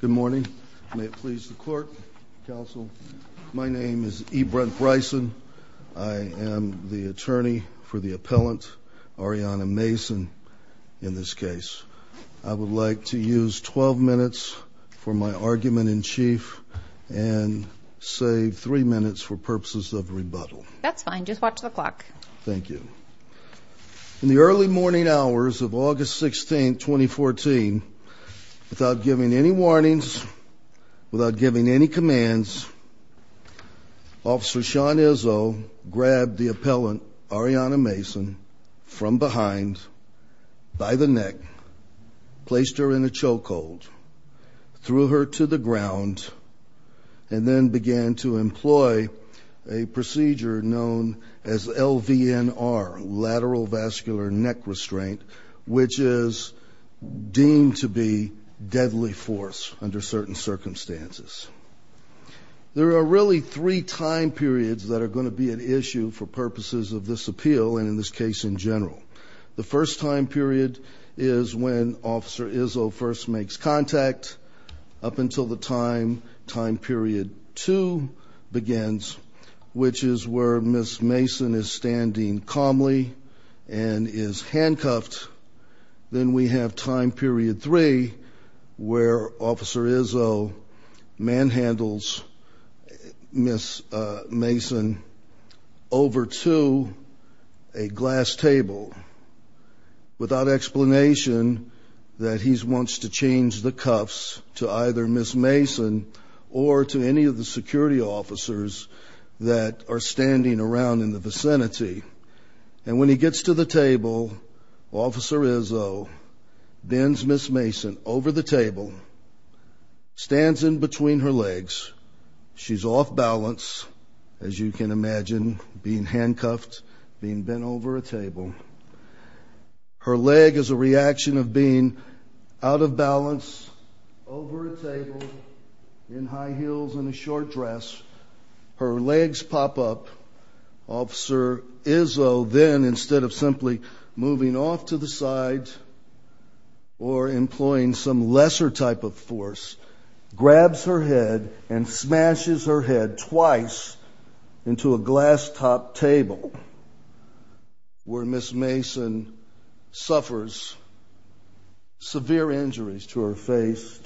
Good morning. May it please the Court, Counsel. My name is E. Brent Bryson. I am the attorney for the appellant, Ariana Mason, in this case. I would like to use 12 minutes for my argument in chief and save 3 minutes for purposes of rebuttal. That's fine. Just watch the clock. Thank you. In the early morning hours of August 16, 2014, without giving any warnings, without giving any commands, Officer Sean Izzo grabbed the appellant, Ariana Mason, from behind by the neck, placed her in a chokehold, threw her to the ground, and then began to employ a procedure known as LVNR, lateral vascular neck restraint, which is deemed to be deadly force under certain circumstances. There are really three time periods that are going to be at issue for purposes of this appeal and in this case in general. The first time period is when Officer Izzo first makes contact. Up until the time, time period two begins, which is where Ms. Mason is standing calmly and is handcuffed. Then we have time period three where Officer Izzo manhandles Ms. Mason over to a glass table without explanation that he wants to change the cuffs to either Ms. Mason or to any of the security officers that are standing around in the vicinity. And when he gets to the table, Officer Izzo bends Ms. Mason over the table, stands in between her legs. She's off balance, as you can imagine, being handcuffed, being bent over a table. Her leg is a reaction of being out of balance, over a table, in high heels and a short dress. Her legs pop up. Officer Izzo then, instead of simply moving off to the side or employing some lesser type of force, grabs her head and smashes her head twice into a glass top table where Ms. Mason suffers severe injuries to her face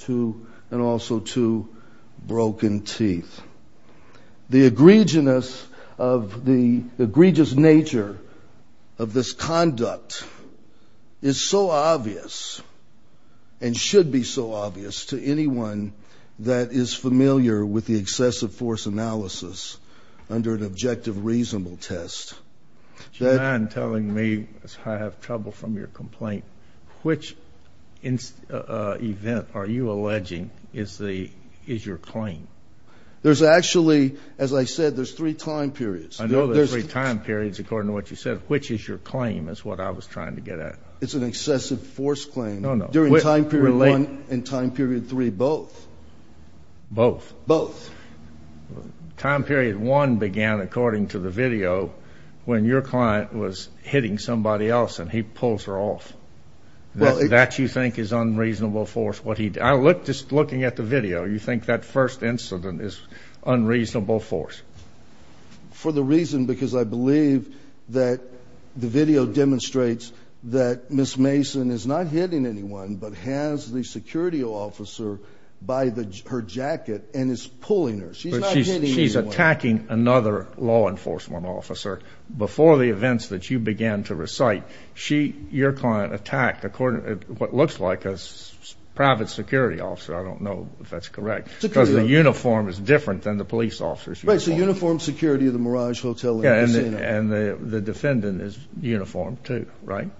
and also to broken teeth. The egregious nature of this conduct is so obvious and should be so obvious to anyone that is familiar with the excessive force analysis under an objective reasonable test. Do you mind telling me, as I have trouble from your complaint, which event are you alleging is your claim? There's actually, as I said, there's three time periods. I know there's three time periods according to what you said. Which is your claim is what I was trying to get at. It's an excessive force claim. No, no. Time period one and time period three, both. Both? Both. Time period one began, according to the video, when your client was hitting somebody else and he pulls her off. That you think is unreasonable force? I looked, just looking at the video, you think that first incident is unreasonable force? For the reason because I believe that the video demonstrates that Ms. Mason is not hitting anyone but has the security officer by her jacket and is pulling her. She's not hitting anyone. But she's attacking another law enforcement officer. Before the events that you began to recite, your client attacked what looks like a private security officer. I don't know if that's correct. Because the uniform is different than the police officer's uniform. Right, so uniform security of the Mirage Hotel and the casino. And the defendant is uniformed, too, right?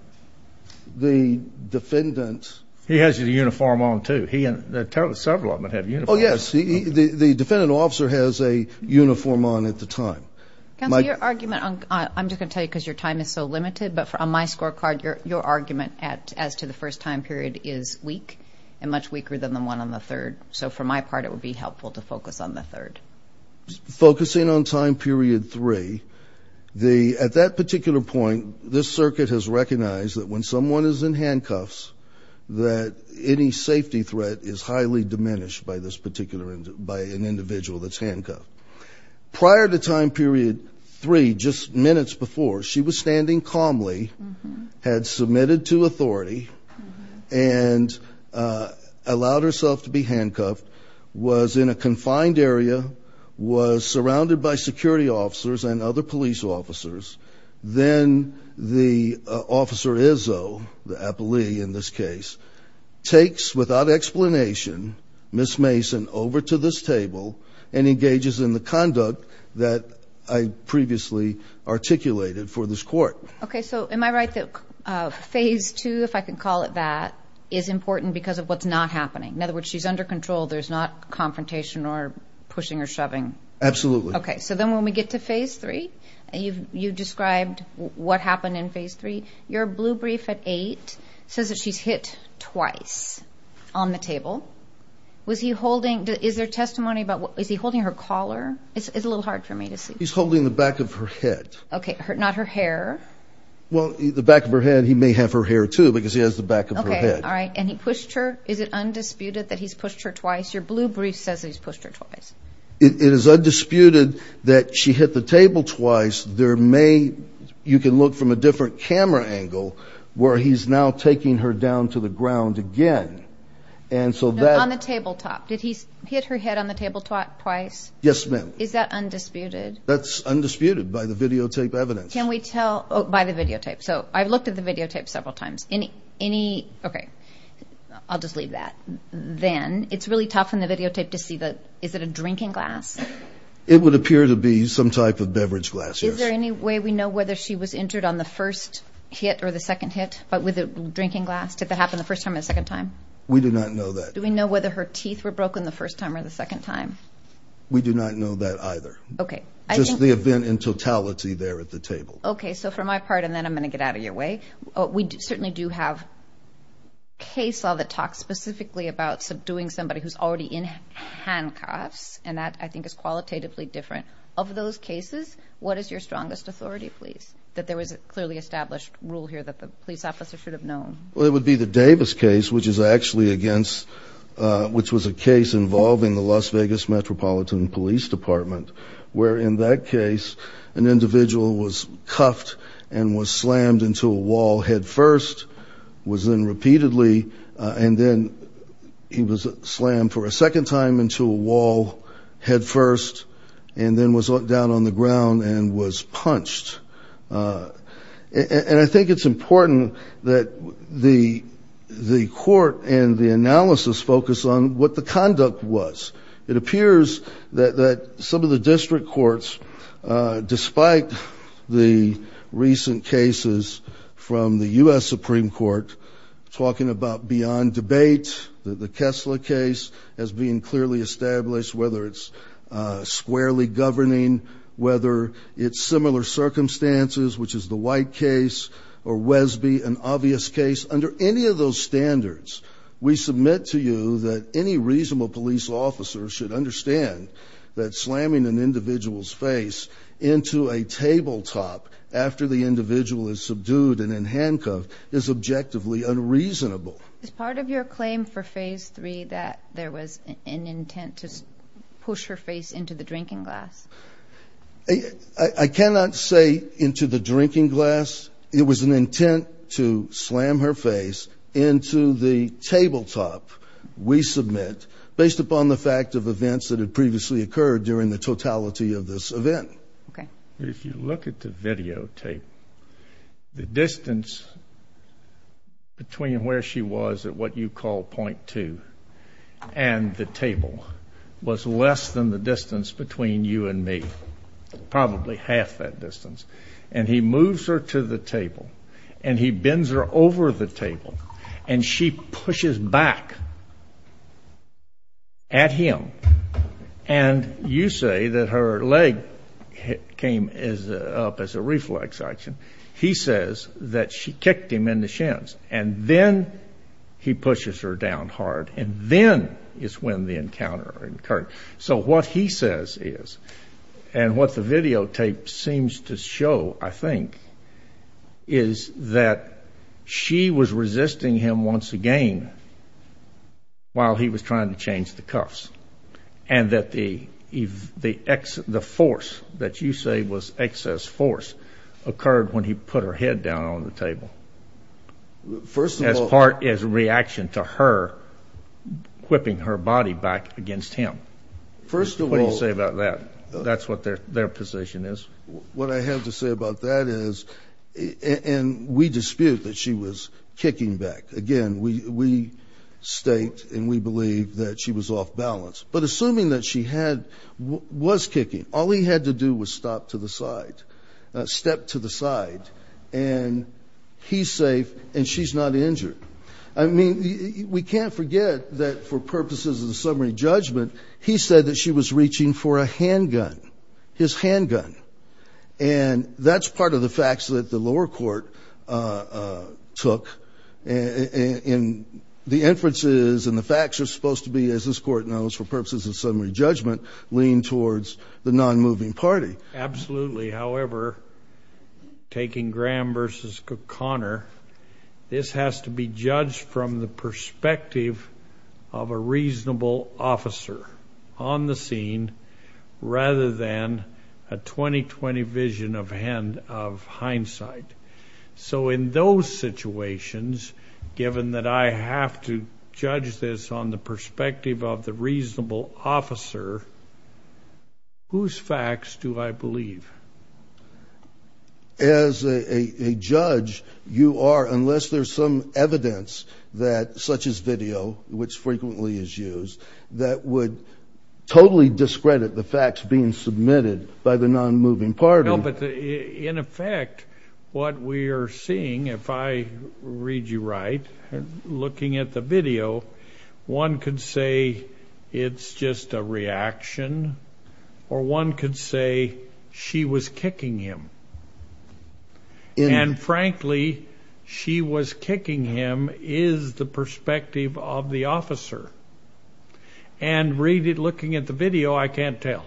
The defendant. He has his uniform on, too. Several of them have uniforms. Oh, yes. The defendant officer has a uniform on at the time. Counselor, your argument, I'm just going to tell you because your time is so limited, but on my scorecard, your argument as to the first time period is weak and much weaker than the one on the third. So for my part, it would be helpful to focus on the third. Focusing on time period three, at that particular point, this circuit has recognized that when someone is in handcuffs, that any safety threat is highly diminished by an individual that's handcuffed. Prior to time period three, just minutes before, she was standing calmly, had submitted to authority, and allowed herself to be handcuffed, was in a confined area, was surrounded by security officers and other police officers. Then the officer, Izzo, the appellee in this case, takes without explanation Ms. Mason over to this table and engages in the conduct that I previously articulated for this court. Okay, so am I right that phase two, if I can call it that, is important because of what's not happening? In other words, she's under control, there's not confrontation or pushing or shoving? Absolutely. Okay, so then when we get to phase three, you described what happened in phase three. Your blue brief at eight says that she's hit twice on the table. Is there testimony about, is he holding her collar? It's a little hard for me to see. He's holding the back of her head. Okay, not her hair? Well, the back of her head, he may have her hair, too, because he has the back of her head. Okay, all right. And he pushed her? Is it undisputed that he's pushed her twice? Your blue brief says that he's pushed her twice. It is undisputed that she hit the table twice. There may, you can look from a different camera angle, where he's now taking her down to the ground again. No, on the tabletop. Did he hit her head on the tabletop twice? Yes, ma'am. Is that undisputed? That's undisputed by the videotape evidence. Can we tell by the videotape? So I've looked at the videotape several times. Any, okay, I'll just leave that. Then it's really tough in the videotape to see the, is it a drinking glass? It would appear to be some type of beverage glass, yes. Is there any way we know whether she was injured on the first hit or the second hit, but with a drinking glass? Did that happen the first time or the second time? We do not know that. Do we know whether her teeth were broken the first time or the second time? We do not know that either. Okay. Just the event in totality there at the table. Okay, so for my part, and then I'm going to get out of your way, we certainly do have case law that talks specifically about subduing somebody who's already in handcuffs, and that, I think, is qualitatively different. Of those cases, what is your strongest authority, please, that there was a clearly established rule here that the police officer should have known? Well, it would be the Davis case, which is actually against, which was a case involving the Las Vegas Metropolitan Police Department, where in that case an individual was cuffed and was slammed into a wall headfirst, was then repeatedly, and then he was slammed for a second time into a wall headfirst, and then was down on the ground and was punched. And I think it's important that the court and the analysis focus on what the conduct was. It appears that some of the district courts, despite the recent cases from the U.S. Supreme Court, talking about beyond debate, the Kessler case as being clearly established, whether it's squarely governing, whether it's similar circumstances, which is the White case or Wesby, an obvious case. Under any of those standards, we submit to you that any reasonable police officer should understand that slamming an individual's face into a tabletop after the individual is subdued and in handcuffs is objectively unreasonable. Is part of your claim for Phase 3 that there was an intent to push her face into the drinking glass? I cannot say into the drinking glass. It was an intent to slam her face into the tabletop we submit, based upon the fact of events that had previously occurred during the totality of this event. If you look at the videotape, the distance between where she was at what you call point 2 and the table was less than the distance between you and me, probably half that distance. And he moves her to the table, and he bends her over the table, and she pushes back at him. And you say that her leg came up as a reflex action. He says that she kicked him in the shins, and then he pushes her down hard, and then is when the encounter occurred. So what he says is, and what the videotape seems to show, I think, is that she was resisting him once again while he was trying to change the cuffs, and that the force that you say was excess force occurred when he put her head down on the table. First of all. As part of his reaction to her whipping her body back against him. First of all. What do you say about that? That's what their position is. What I have to say about that is, and we dispute that she was kicking back. Again, we state and we believe that she was off balance. But assuming that she was kicking, all he had to do was stop to the side, step to the side, and he's safe and she's not injured. I mean, we can't forget that for purposes of the summary judgment, he said that she was reaching for a handgun, his handgun. And that's part of the facts that the lower court took. And the inferences and the facts are supposed to be, as this court knows, for purposes of summary judgment, lean towards the non-moving party. Absolutely. However, taking Graham versus Connor, this has to be judged from the perspective of a reasonable officer on the scene rather than a 20-20 vision of hindsight. So in those situations, given that I have to judge this on the perspective of the reasonable officer, whose facts do I believe? As a judge, you are, unless there's some evidence such as video, which frequently is used, that would totally discredit the facts being submitted by the non-moving party. No, but in effect, what we are seeing, if I read you right, looking at the video, one could say it's just a reaction, or one could say she was kicking him. And frankly, she was kicking him is the perspective of the officer. And reading, looking at the video, I can't tell.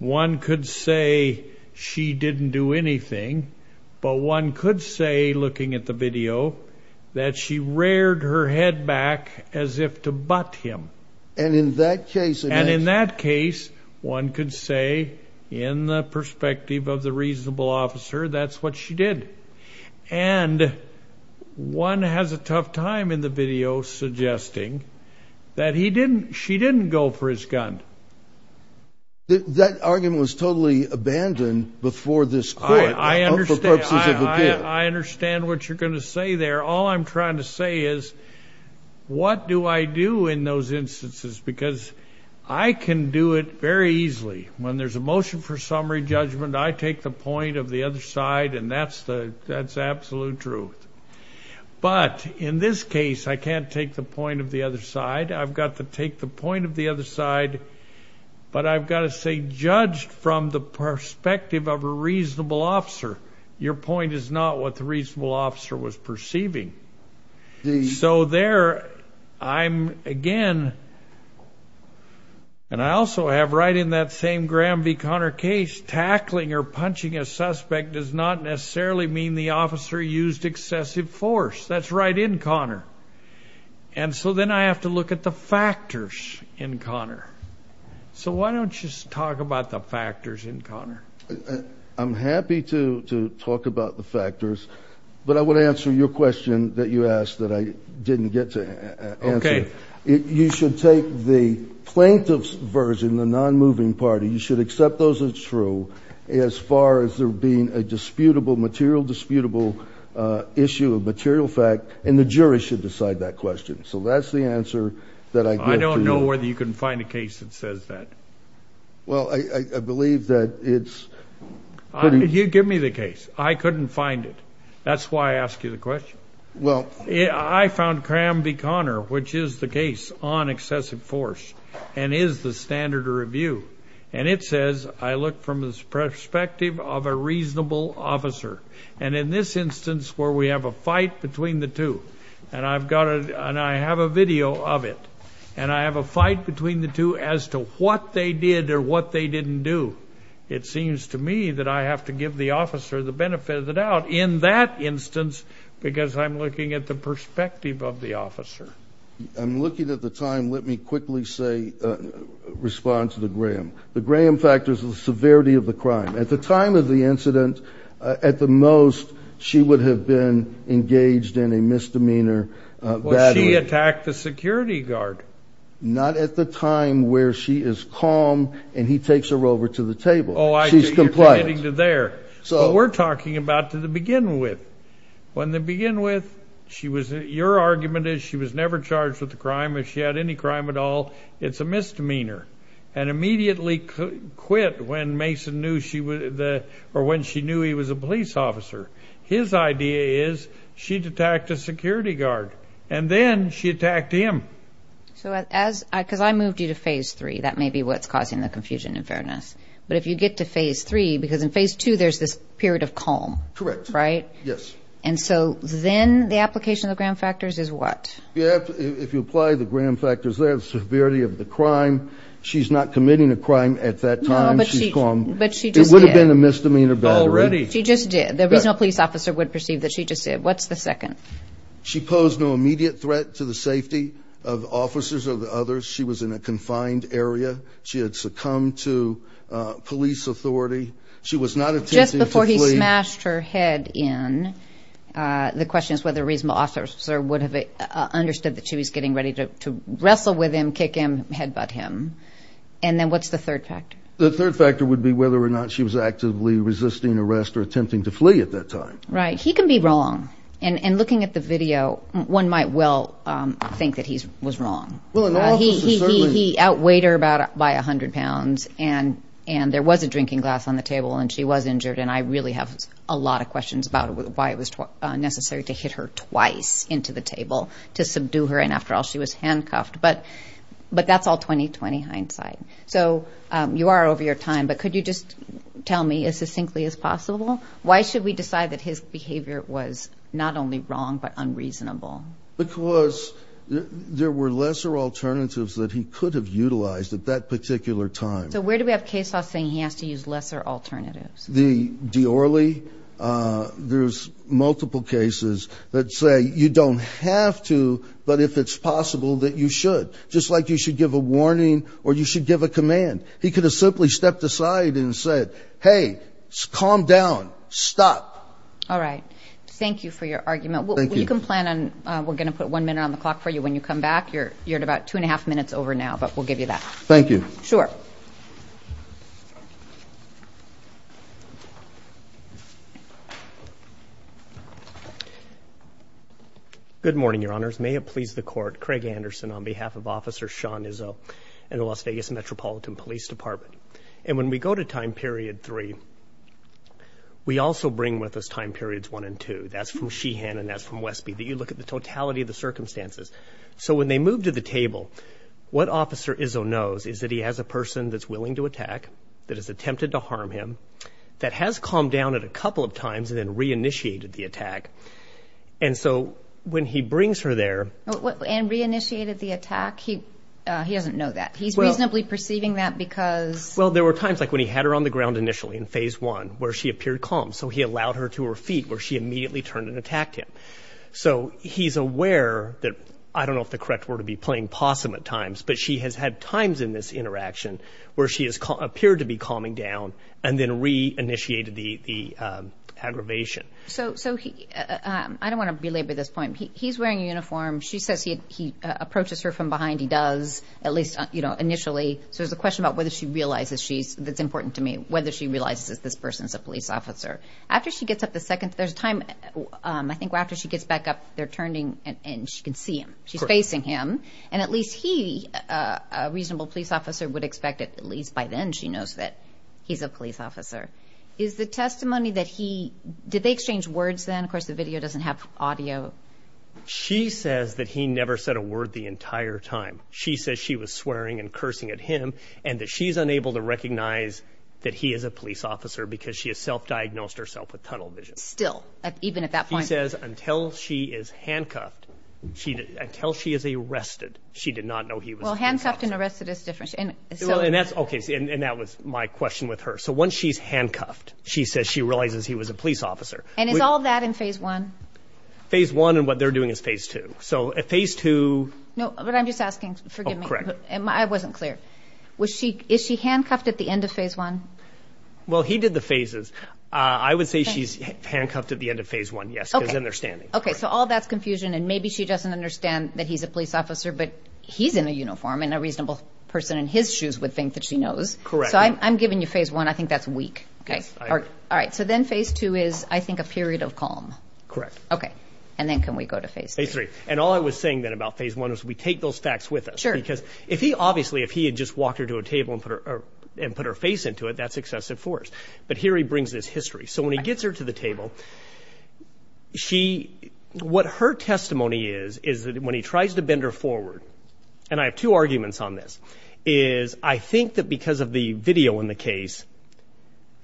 One could say she didn't do anything, but one could say, looking at the video, that she reared her head back as if to butt him. And in that case, one could say, in the perspective of the reasonable officer, that's what she did. And one has a tough time in the video suggesting that she didn't go for his gun. That argument was totally abandoned before this court for purposes of appeal. I understand what you're going to say there. All I'm trying to say is, what do I do in those instances? Because I can do it very easily. When there's a motion for summary judgment, I take the point of the other side, and that's the absolute truth. But in this case, I can't take the point of the other side. I've got to take the point of the other side, but I've got to say, judged from the perspective of a reasonable officer, your point is not what the reasonable officer was perceiving. So there, I'm, again, and I also have right in that same Graham v. Conner case, tackling or punching a suspect does not necessarily mean the officer used excessive force. That's right in Conner. And so then I have to look at the factors in Conner. I'm happy to talk about the factors, but I want to answer your question that you asked that I didn't get to answer. Okay. You should take the plaintiff's version, the non-moving party, you should accept those as true as far as there being a disputable, material disputable issue of material fact, and the jury should decide that question. So that's the answer that I give to you. I don't know whether you can find a case that says that. Well, I believe that it's pretty. You give me the case. I couldn't find it. That's why I ask you the question. Well. I found Graham v. Conner, which is the case on excessive force, and is the standard to review. And it says, I look from the perspective of a reasonable officer. And in this instance where we have a fight between the two, and I have a video of it, and I have a fight between the two as to what they did or what they didn't do, it seems to me that I have to give the officer the benefit of the doubt in that instance because I'm looking at the perspective of the officer. I'm looking at the time. Let me quickly say, respond to the Graham. The Graham factors are the severity of the crime. At the time of the incident, at the most, she would have been engaged in a misdemeanor badly. She attacked the security guard. Not at the time where she is calm and he takes her over to the table. Oh, I see. She's compliant. You're getting to there. But we're talking about to the begin with. When the begin with, your argument is she was never charged with a crime. If she had any crime at all, it's a misdemeanor. And immediately quit when Mason knew she was a police officer. His idea is she'd attacked a security guard. And then she attacked him. Because I moved you to phase three. That may be what's causing the confusion, in fairness. But if you get to phase three, because in phase two there's this period of calm. Correct. Right? Yes. And so then the application of the Graham factors is what? If you apply the Graham factors there, the severity of the crime, she's not committing a crime at that time. She's calm. But she just did. It would have been a misdemeanor badly. Already. She just did. The regional police officer would perceive that she just did. What's the second? She posed no immediate threat to the safety of officers or the others. She was in a confined area. She had succumbed to police authority. She was not attempting to flee. Just before he smashed her head in, the question is whether a regional officer would have understood that she was getting ready to wrestle with him, kick him, headbutt him. And then what's the third factor? The third factor would be whether or not she was actively resisting arrest or attempting to flee at that time. Right. He can be wrong. And looking at the video, one might well think that he was wrong. He outweighed her by about 100 pounds. And there was a drinking glass on the table, and she was injured. And I really have a lot of questions about why it was necessary to hit her twice into the table to subdue her. And, after all, she was handcuffed. But that's all 20-20 hindsight. So you are over your time. But could you just tell me as succinctly as possible, why should we decide that his behavior was not only wrong but unreasonable? Because there were lesser alternatives that he could have utilized at that particular time. So where do we have case law saying he has to use lesser alternatives? The Diorly. There's multiple cases that say you don't have to, but if it's possible that you should, just like you should give a warning or you should give a command. He could have simply stepped aside and said, hey, calm down, stop. All right. Thank you for your argument. Thank you. You can plan on we're going to put one minute on the clock for you when you come back. You're at about two and a half minutes over now, but we'll give you that. Thank you. Sure. Good morning, Your Honors. May it please the Court. Craig Anderson on behalf of Officer Sean Izzo and the Las Vegas Metropolitan Police Department. And when we go to time period three, we also bring with us time periods one and two. That's from Sheehan and that's from Wesby. You look at the totality of the circumstances. So when they move to the table, what Officer Izzo knows is that he has a person that's willing to attack, that has attempted to harm him, that has calmed down a couple of times and then reinitiated the attack. And so when he brings her there. And reinitiated the attack? He doesn't know that. He's reasonably perceiving that because. Well, there were times like when he had her on the ground initially in phase one where she appeared calm. So he allowed her to her feet where she immediately turned and attacked him. So he's aware that, I don't know if the correct word would be playing possum at times, but she has had times in this interaction where she has appeared to be calming down and then reinitiated the aggravation. So I don't want to belabor this point. He's wearing a uniform. She says he approaches her from behind. He does, at least, you know, initially. So there's a question about whether she realizes she's, that's important to me, whether she realizes this person's a police officer. After she gets up the second, there's a time I think after she gets back up, they're turning and she can see him. She's facing him. And at least he, a reasonable police officer, would expect at least by then she knows that he's a police officer. Is the testimony that he, did they exchange words then? Of course, the video doesn't have audio. She says that he never said a word the entire time. She says she was swearing and cursing at him and that she's unable to recognize that he is a police officer because she has self-diagnosed herself with tunnel vision. Still, even at that point. She says until she is handcuffed, until she is arrested, she did not know he was a police officer. Well, handcuffed and arrested is different. And that's, okay, and that was my question with her. So once she's handcuffed, she says she realizes he was a police officer. And is all that in Phase 1? Phase 1 and what they're doing is Phase 2. So at Phase 2. No, but I'm just asking, forgive me. Correct. I wasn't clear. Was she, is she handcuffed at the end of Phase 1? Well, he did the phases. I would say she's handcuffed at the end of Phase 1, yes, because then they're standing. Okay, so all that's confusion and maybe she doesn't understand that he's a police officer, but he's in a uniform and a reasonable person in his shoes would think that she knows. Correct. So I'm giving you Phase 1. I think that's weak. Okay. All right. So then Phase 2 is, I think, a period of calm. Correct. Okay. And then can we go to Phase 3? Phase 3. And all I was saying then about Phase 1 is we take those facts with us. Sure. Because if he obviously, if he had just walked her to a table and put her face into it, that's excessive force. But here he brings this history. So when he gets her to the table, she, what her testimony is, is that when he tries to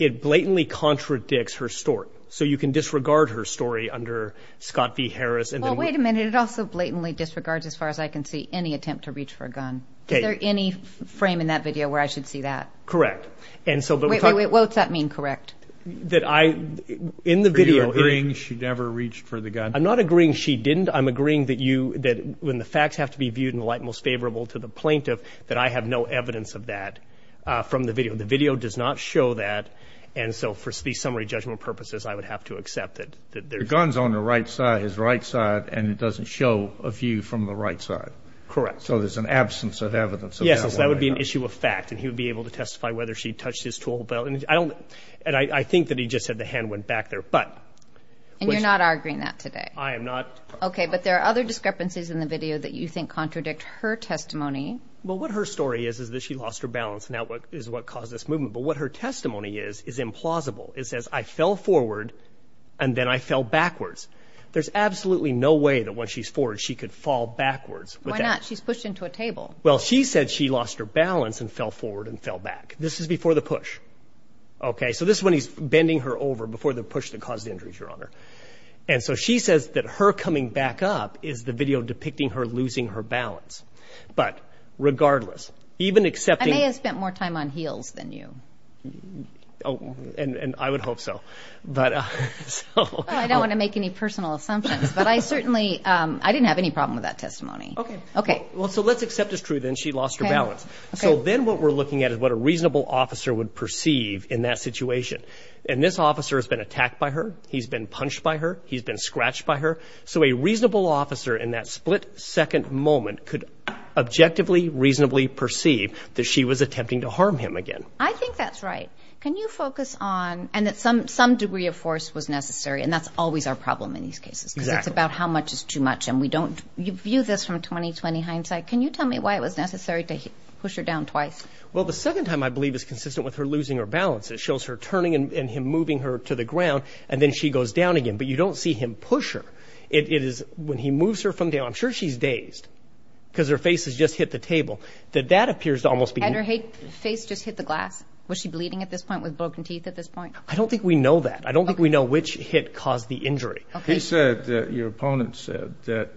it blatantly contradicts her story. So you can disregard her story under Scott v. Harris. Well, wait a minute. It also blatantly disregards, as far as I can see, any attempt to reach for a gun. Okay. Is there any frame in that video where I should see that? Correct. And so... Wait, wait, wait. What's that mean, correct? That I, in the video... Are you agreeing she never reached for the gun? I'm not agreeing she didn't. I'm agreeing that you, that when the facts have to be viewed in the light most favorable to the plaintiff, that I have no evidence of that from the video. The video does not show that. And so, for summary judgment purposes, I would have to accept that there's... The gun's on the right side, his right side, and it doesn't show a view from the right side. Correct. So there's an absence of evidence of that. Yes. So that would be an issue of fact. And he would be able to testify whether she touched his tool belt. And I don't, and I think that he just said the hand went back there. But... And you're not arguing that today? I am not. Okay. But there are other discrepancies in the video that you think contradict her testimony. Well, what her story is is that she lost her balance, and that is what caused this movement. But what her testimony is is implausible. It says, I fell forward, and then I fell backwards. There's absolutely no way that when she's forward she could fall backwards. Why not? She's pushed into a table. Well, she said she lost her balance and fell forward and fell back. This is before the push. Okay? So this is when he's bending her over before the push that caused the injuries, Your Honor. And so she says that her coming back up is the video depicting her losing her balance. But regardless, even accepting... I may have spent more time on heels than you. Oh, and I would hope so. But... I don't want to make any personal assumptions. But I certainly, I didn't have any problem with that testimony. Okay. Okay. Well, so let's accept as true then she lost her balance. Okay. So then what we're looking at is what a reasonable officer would perceive in that situation. And this officer has been attacked by her. He's been punched by her. He's been scratched by her. So a reasonable officer in that split-second moment could objectively, reasonably perceive that she was attempting to harm him again. I think that's right. Can you focus on... And that some degree of force was necessary. And that's always our problem in these cases. Exactly. Because it's about how much is too much. And we don't... You view this from 20-20 hindsight. Can you tell me why it was necessary to push her down twice? Well, the second time I believe is consistent with her losing her balance. It shows her turning and him moving her to the ground. And then she goes down again. But you don't see him push her. It is when he moves her from down. I'm sure she's dazed because her face has just hit the table. That that appears to almost be... And her face just hit the glass? Was she bleeding at this point with broken teeth at this point? I don't think we know that. I don't think we know which hit caused the injury. Okay. He said that your opponent said that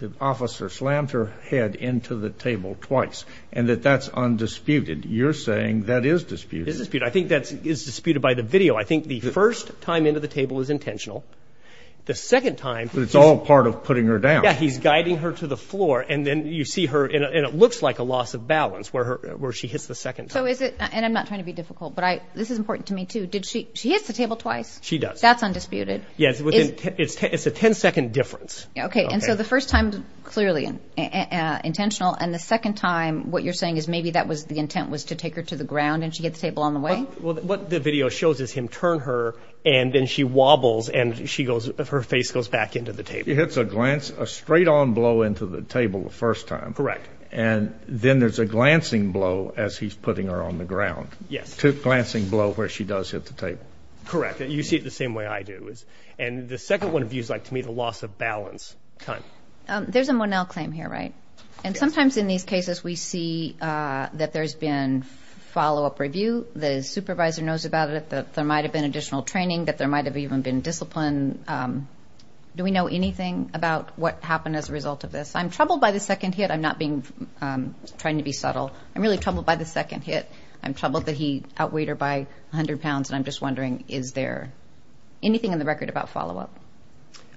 the officer slammed her head into the table twice and that that's undisputed. You're saying that is disputed. It is disputed. I think that is disputed by the video. I think the first time into the table is intentional. The second time... But it's all part of putting her down. Yeah, he's guiding her to the floor. And then you see her, and it looks like a loss of balance where she hits the second time. So is it... And I'm not trying to be difficult, but this is important to me, too. Did she... She hits the table twice? She does. That's undisputed. Yeah, it's a 10-second difference. Okay. And so the first time, clearly intentional. And the second time, what you're saying is maybe that was... The intent was to take her to the ground and she hit the table on the way? Well, what the video shows is him turn her, and then she wobbles, and she goes... Her face goes back into the table. It hits a glance... A straight-on blow into the table the first time. Correct. And then there's a glancing blow as he's putting her on the ground. Yes. Glancing blow where she does hit the table. Correct. You see it the same way I do. And the second one views, like, to me, the loss of balance kind. There's a Monell claim here, right? And sometimes in these cases we see that there's been follow-up review, the supervisor knows about it, that there might have been additional training, that there might have even been discipline. Do we know anything about what happened as a result of this? I'm troubled by the second hit. I'm not trying to be subtle. I'm really troubled by the second hit. I'm troubled that he outweighed her by 100 pounds, and I'm just wondering, is there anything in the record about follow-up?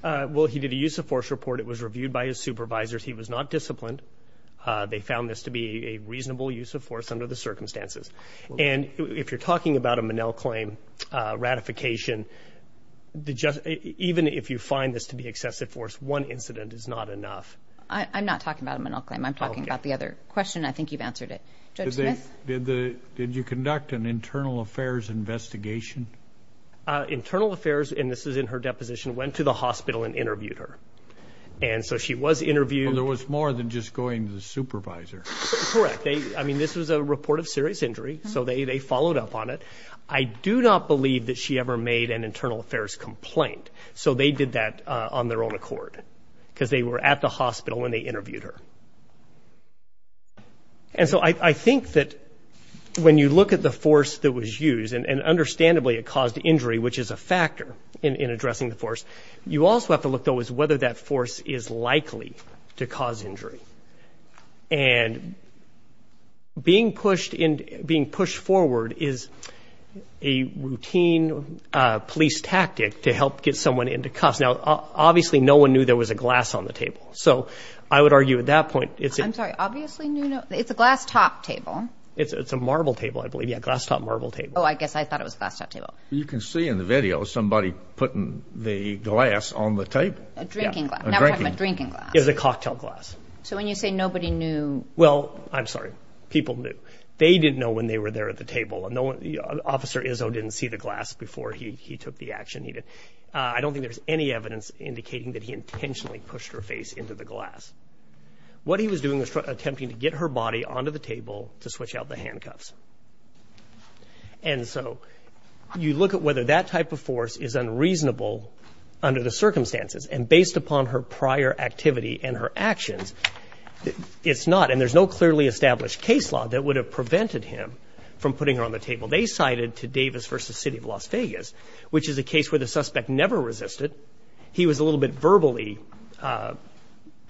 Well, he did a use-of-force report. It was reviewed by his supervisors. He was not disciplined. They found this to be a reasonable use-of-force under the circumstances. And if you're talking about a Monell claim ratification, even if you find this to be excessive force, one incident is not enough. I'm not talking about a Monell claim. I'm talking about the other question. I think you've answered it. Judge Smith? Did you conduct an internal affairs investigation? Internal affairs, and this is in her deposition, went to the hospital and interviewed her. And so she was interviewed. Well, there was more than just going to the supervisor. Correct. I mean, this was a report of serious injury, so they followed up on it. I do not believe that she ever made an internal affairs complaint, so they did that on their own accord because they were at the hospital and they interviewed her. And so I think that when you look at the force that was used, and understandably it caused injury, which is a factor in addressing the force, you also have to look, though, at whether that force is likely to cause injury. And being pushed forward is a routine police tactic to help get someone into cuffs. Now, obviously no one knew there was a glass on the table. So I would argue at that point. I'm sorry, obviously no one knew. It's a glass-top table. It's a marble table, I believe. Yeah, glass-top marble table. Oh, I guess I thought it was a glass-top table. You can see in the video somebody putting the glass on the table. A drinking glass. Now we're talking about drinking glass. It was a cocktail glass. So when you say nobody knew. Well, I'm sorry, people knew. They didn't know when they were there at the table. Officer Izzo didn't see the glass before he took the action. I don't think there's any evidence indicating that he intentionally pushed her face into the glass. What he was doing was attempting to get her body onto the table to switch out the handcuffs. And so you look at whether that type of force is unreasonable under the circumstances. And based upon her prior activity and her actions, it's not. And there's no clearly established case law that would have prevented him from putting her on the table. They cited to Davis v. City of Las Vegas, which is a case where the suspect never resisted. He was a little bit verbally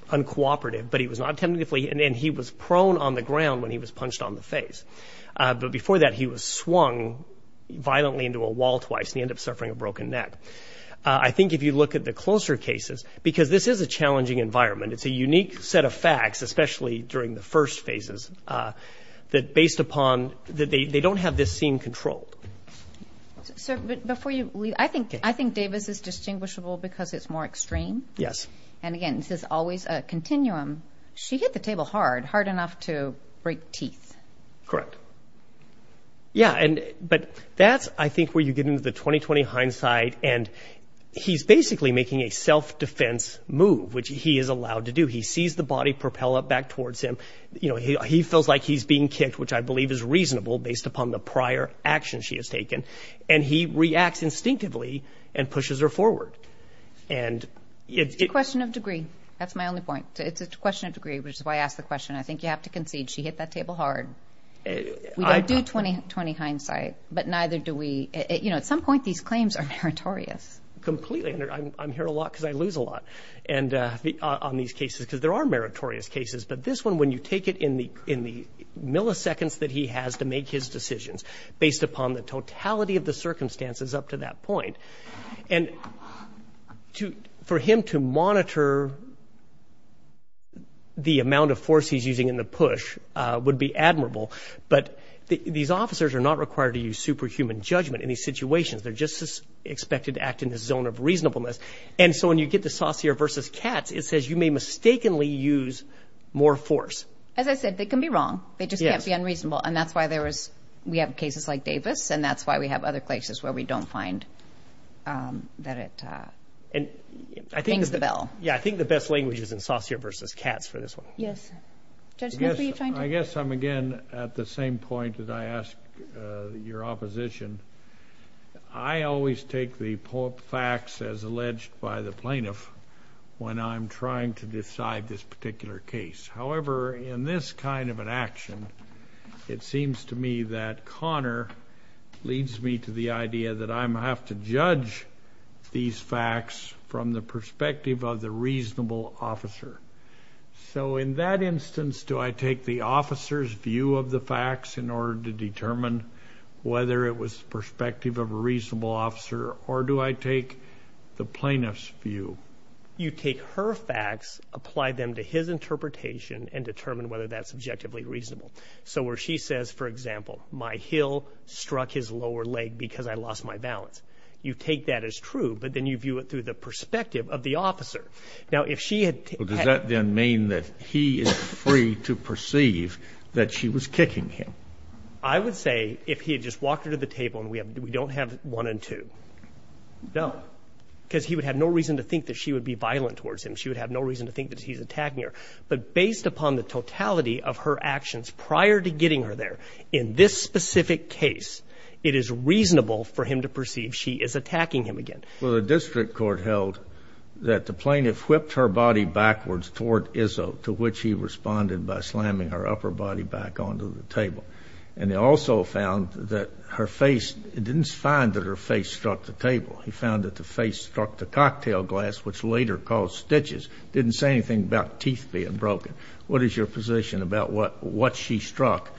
uncooperative. And he was prone on the ground when he was punched on the face. But before that, he was swung violently into a wall twice, and he ended up suffering a broken neck. I think if you look at the closer cases, because this is a challenging environment, it's a unique set of facts, especially during the first phases, that based upon they don't have this scene controlled. Sir, before you leave, I think Davis is distinguishable because it's more extreme. Yes. And again, this is always a continuum. She hit the table hard, hard enough to break teeth. Correct. Yeah, but that's, I think, where you get into the 20-20 hindsight. And he's basically making a self-defense move, which he is allowed to do. He sees the body propel up back towards him. You know, he feels like he's being kicked, which I believe is reasonable based upon the prior action she has taken. And he reacts instinctively and pushes her forward. It's a question of degree. That's my only point. It's a question of degree, which is why I asked the question. I think you have to concede she hit that table hard. We don't do 20-20 hindsight, but neither do we. You know, at some point, these claims are meritorious. Completely. I'm here a lot because I lose a lot on these cases because there are meritorious cases. But this one, when you take it in the milliseconds that he has to make his decisions, based upon the totality of the circumstances up to that point. And for him to monitor the amount of force he's using in the push would be admirable. But these officers are not required to use superhuman judgment in these situations. They're just expected to act in the zone of reasonableness. And so when you get the saucier versus cats, it says you may mistakenly use more force. As I said, they can be wrong. They just can't be unreasonable. And that's why we have cases like Davis, and that's why we have other cases where we don't find that it rings the bell. Yeah, I think the best language is in saucier versus cats for this one. Yes. Judge Smith, were you trying to? I guess I'm, again, at the same point that I asked your opposition. I always take the facts as alleged by the plaintiff when I'm trying to decide this particular case. However, in this kind of an action, it seems to me that Connor leads me to the idea that I have to judge these facts from the perspective of the reasonable officer. So in that instance, do I take the officer's view of the facts in order to determine whether it was the perspective of a reasonable officer, or do I take the plaintiff's view? You take her facts, apply them to his interpretation, and determine whether that's subjectively reasonable. So where she says, for example, my heel struck his lower leg because I lost my balance. You take that as true, but then you view it through the perspective of the officer. Now, if she had – Well, does that then mean that he is free to perceive that she was kicking him? I would say if he had just walked her to the table and we don't have one and two. No. Because he would have no reason to think that she would be violent towards him. She would have no reason to think that he's attacking her. But based upon the totality of her actions prior to getting her there in this specific case, it is reasonable for him to perceive she is attacking him again. Well, the district court held that the plaintiff whipped her body backwards toward Izzo, to which he responded by slamming her upper body back onto the table. And they also found that her face – it didn't find that her face struck the table. He found that the face struck the cocktail glass, which later caused stitches. It didn't say anything about teeth being broken. What is your position about what she struck,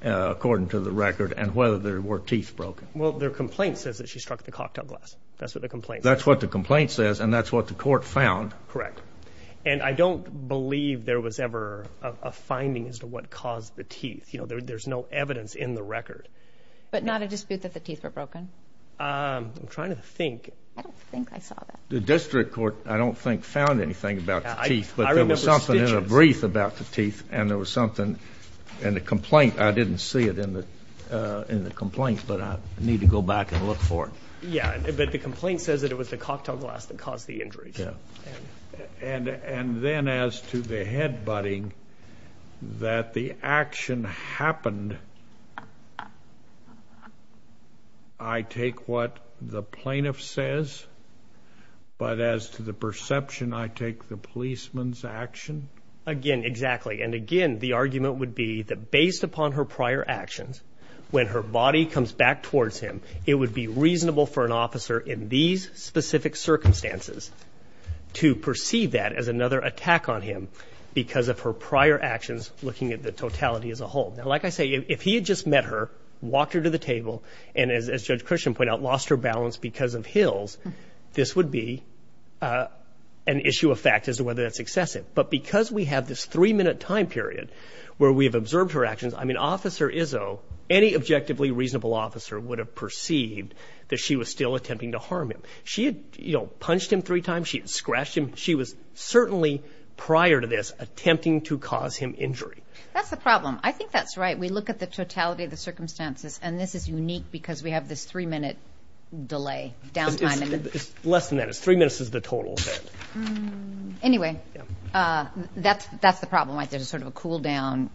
according to the record, and whether there were teeth broken? Well, their complaint says that she struck the cocktail glass. That's what the complaint says. That's what the complaint says, and that's what the court found. Correct. And I don't believe there was ever a finding as to what caused the teeth. You know, there's no evidence in the record. But not a dispute that the teeth were broken? I'm trying to think. I don't think I saw that. The district court, I don't think, found anything about the teeth, but there was something in a brief about the teeth, and there was something in the complaint. I didn't see it in the complaint, but I need to go back and look for it. Yeah, but the complaint says that it was the cocktail glass that caused the injury. Yeah. And then as to the head-butting, that the action happened, I take what the plaintiff says, but as to the perception, I take the policeman's action? Again, exactly. And, again, the argument would be that based upon her prior actions, when her body comes back towards him, it would be reasonable for an officer in these specific circumstances to perceive that as another attack on him because of her prior actions looking at the totality as a whole. Now, like I say, if he had just met her, walked her to the table, and as Judge Christian pointed out, lost her balance because of Hills, this would be an issue of fact as to whether that's excessive. But because we have this three-minute time period where we have observed her actions, I mean, Officer Izzo, any objectively reasonable officer would have perceived that she was still attempting to harm him. She had punched him three times. She had scratched him. She was certainly prior to this attempting to cause him injury. That's the problem. I think that's right. We look at the totality of the circumstances, and this is unique because we have this three-minute delay, downtime. It's less than that. It's three minutes is the total. Anyway, that's the problem.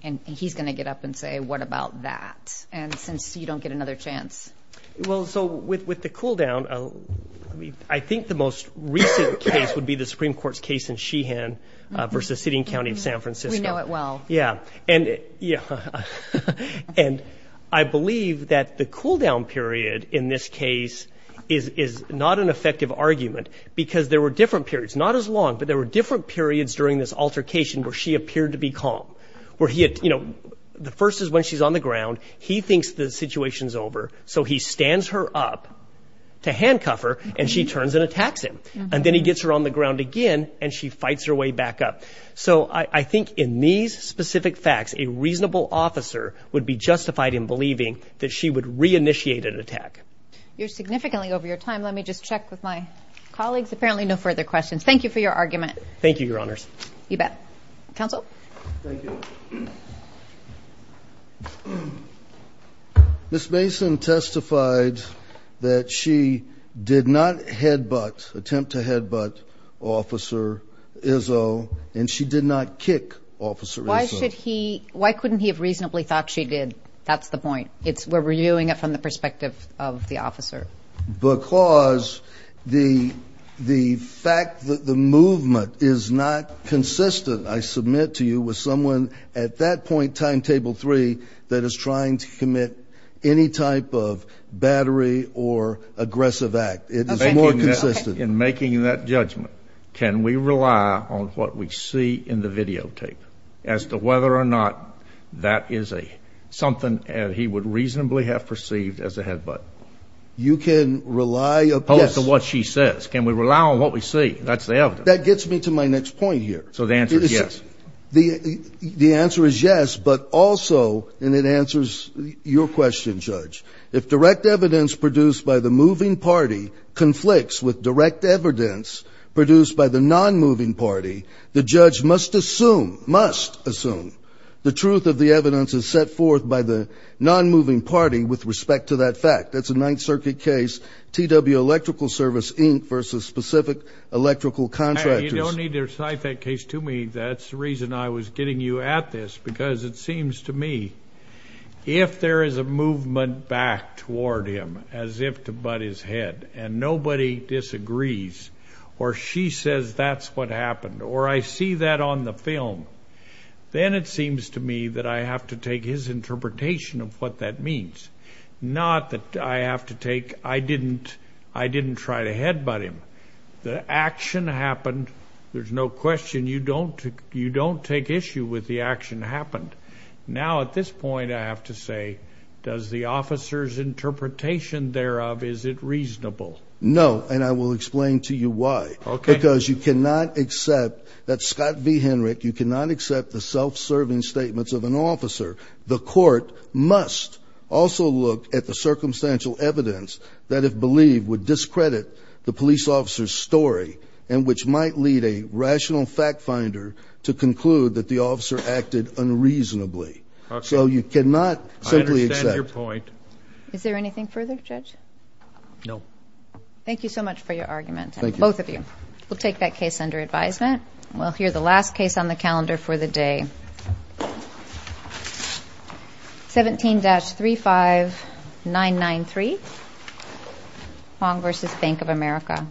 And he's going to get up and say, what about that? And since you don't get another chance. Well, so with the cool-down, I think the most recent case would be the Supreme Court's case in Sheehan versus the city and county of San Francisco. We know it well. Yeah. And I believe that the cool-down period in this case is not an effective argument because there were different periods, not as long, but there were different periods during this altercation where she appeared to be calm. The first is when she's on the ground. He thinks the situation's over, so he stands her up to handcuff her, and she turns and attacks him. And then he gets her on the ground again, and she fights her way back up. So I think in these specific facts, a reasonable officer would be justified in believing that she would reinitiate an attack. You're significantly over your time. Let me just check with my colleagues. Apparently no further questions. Thank you for your argument. Thank you, Your Honors. You bet. Counsel? Thank you. Ms. Mason testified that she did not headbutt, attempt to headbutt Officer Izzo, and she did not kick Officer Izzo. Why couldn't he have reasonably thought she did? We're reviewing it from the perspective of the officer. Because the fact that the movement is not consistent, I submit to you, with someone at that point, timetable three, that is trying to commit any type of battery or aggressive act. It is more consistent. In making that judgment, can we rely on what we see in the videotape as to whether or not that is something he would reasonably have perceived as a headbutt? You can rely upon what she says. Can we rely on what we see? That's the evidence. That gets me to my next point here. So the answer is yes. The answer is yes, but also, and it answers your question, Judge, if direct evidence produced by the moving party conflicts with direct evidence produced by the non-moving party, the judge must assume, must assume, the truth of the evidence is set forth by the non-moving party with respect to that fact. That's a Ninth Circuit case, TW Electrical Service, Inc., versus specific electrical contractors. You don't need to recite that case to me. That's the reason I was getting you at this, because it seems to me if there is a movement back toward him as if to butt his head and nobody disagrees or she says that's what happened or I see that on the film, then it seems to me that I have to take his interpretation of what that means, not that I have to take I didn't try to headbutt him. The action happened. There's no question you don't take issue with the action happened. Now, at this point, I have to say does the officer's interpretation thereof, is it reasonable? No, and I will explain to you why. Okay. Because you cannot accept that Scott V. Henrich, you cannot accept the self-serving statements of an officer. The court must also look at the circumstantial evidence that if believed would discredit the police officer's story and which might lead a rational fact finder to conclude that the officer acted unreasonably. So you cannot simply accept. I understand your point. Is there anything further, Judge? No. Thank you so much for your argument, both of you. Thank you. We'll take that case under advisement. We'll hear the last case on the calendar for the day, 17-35993, Hong v. Bank of America.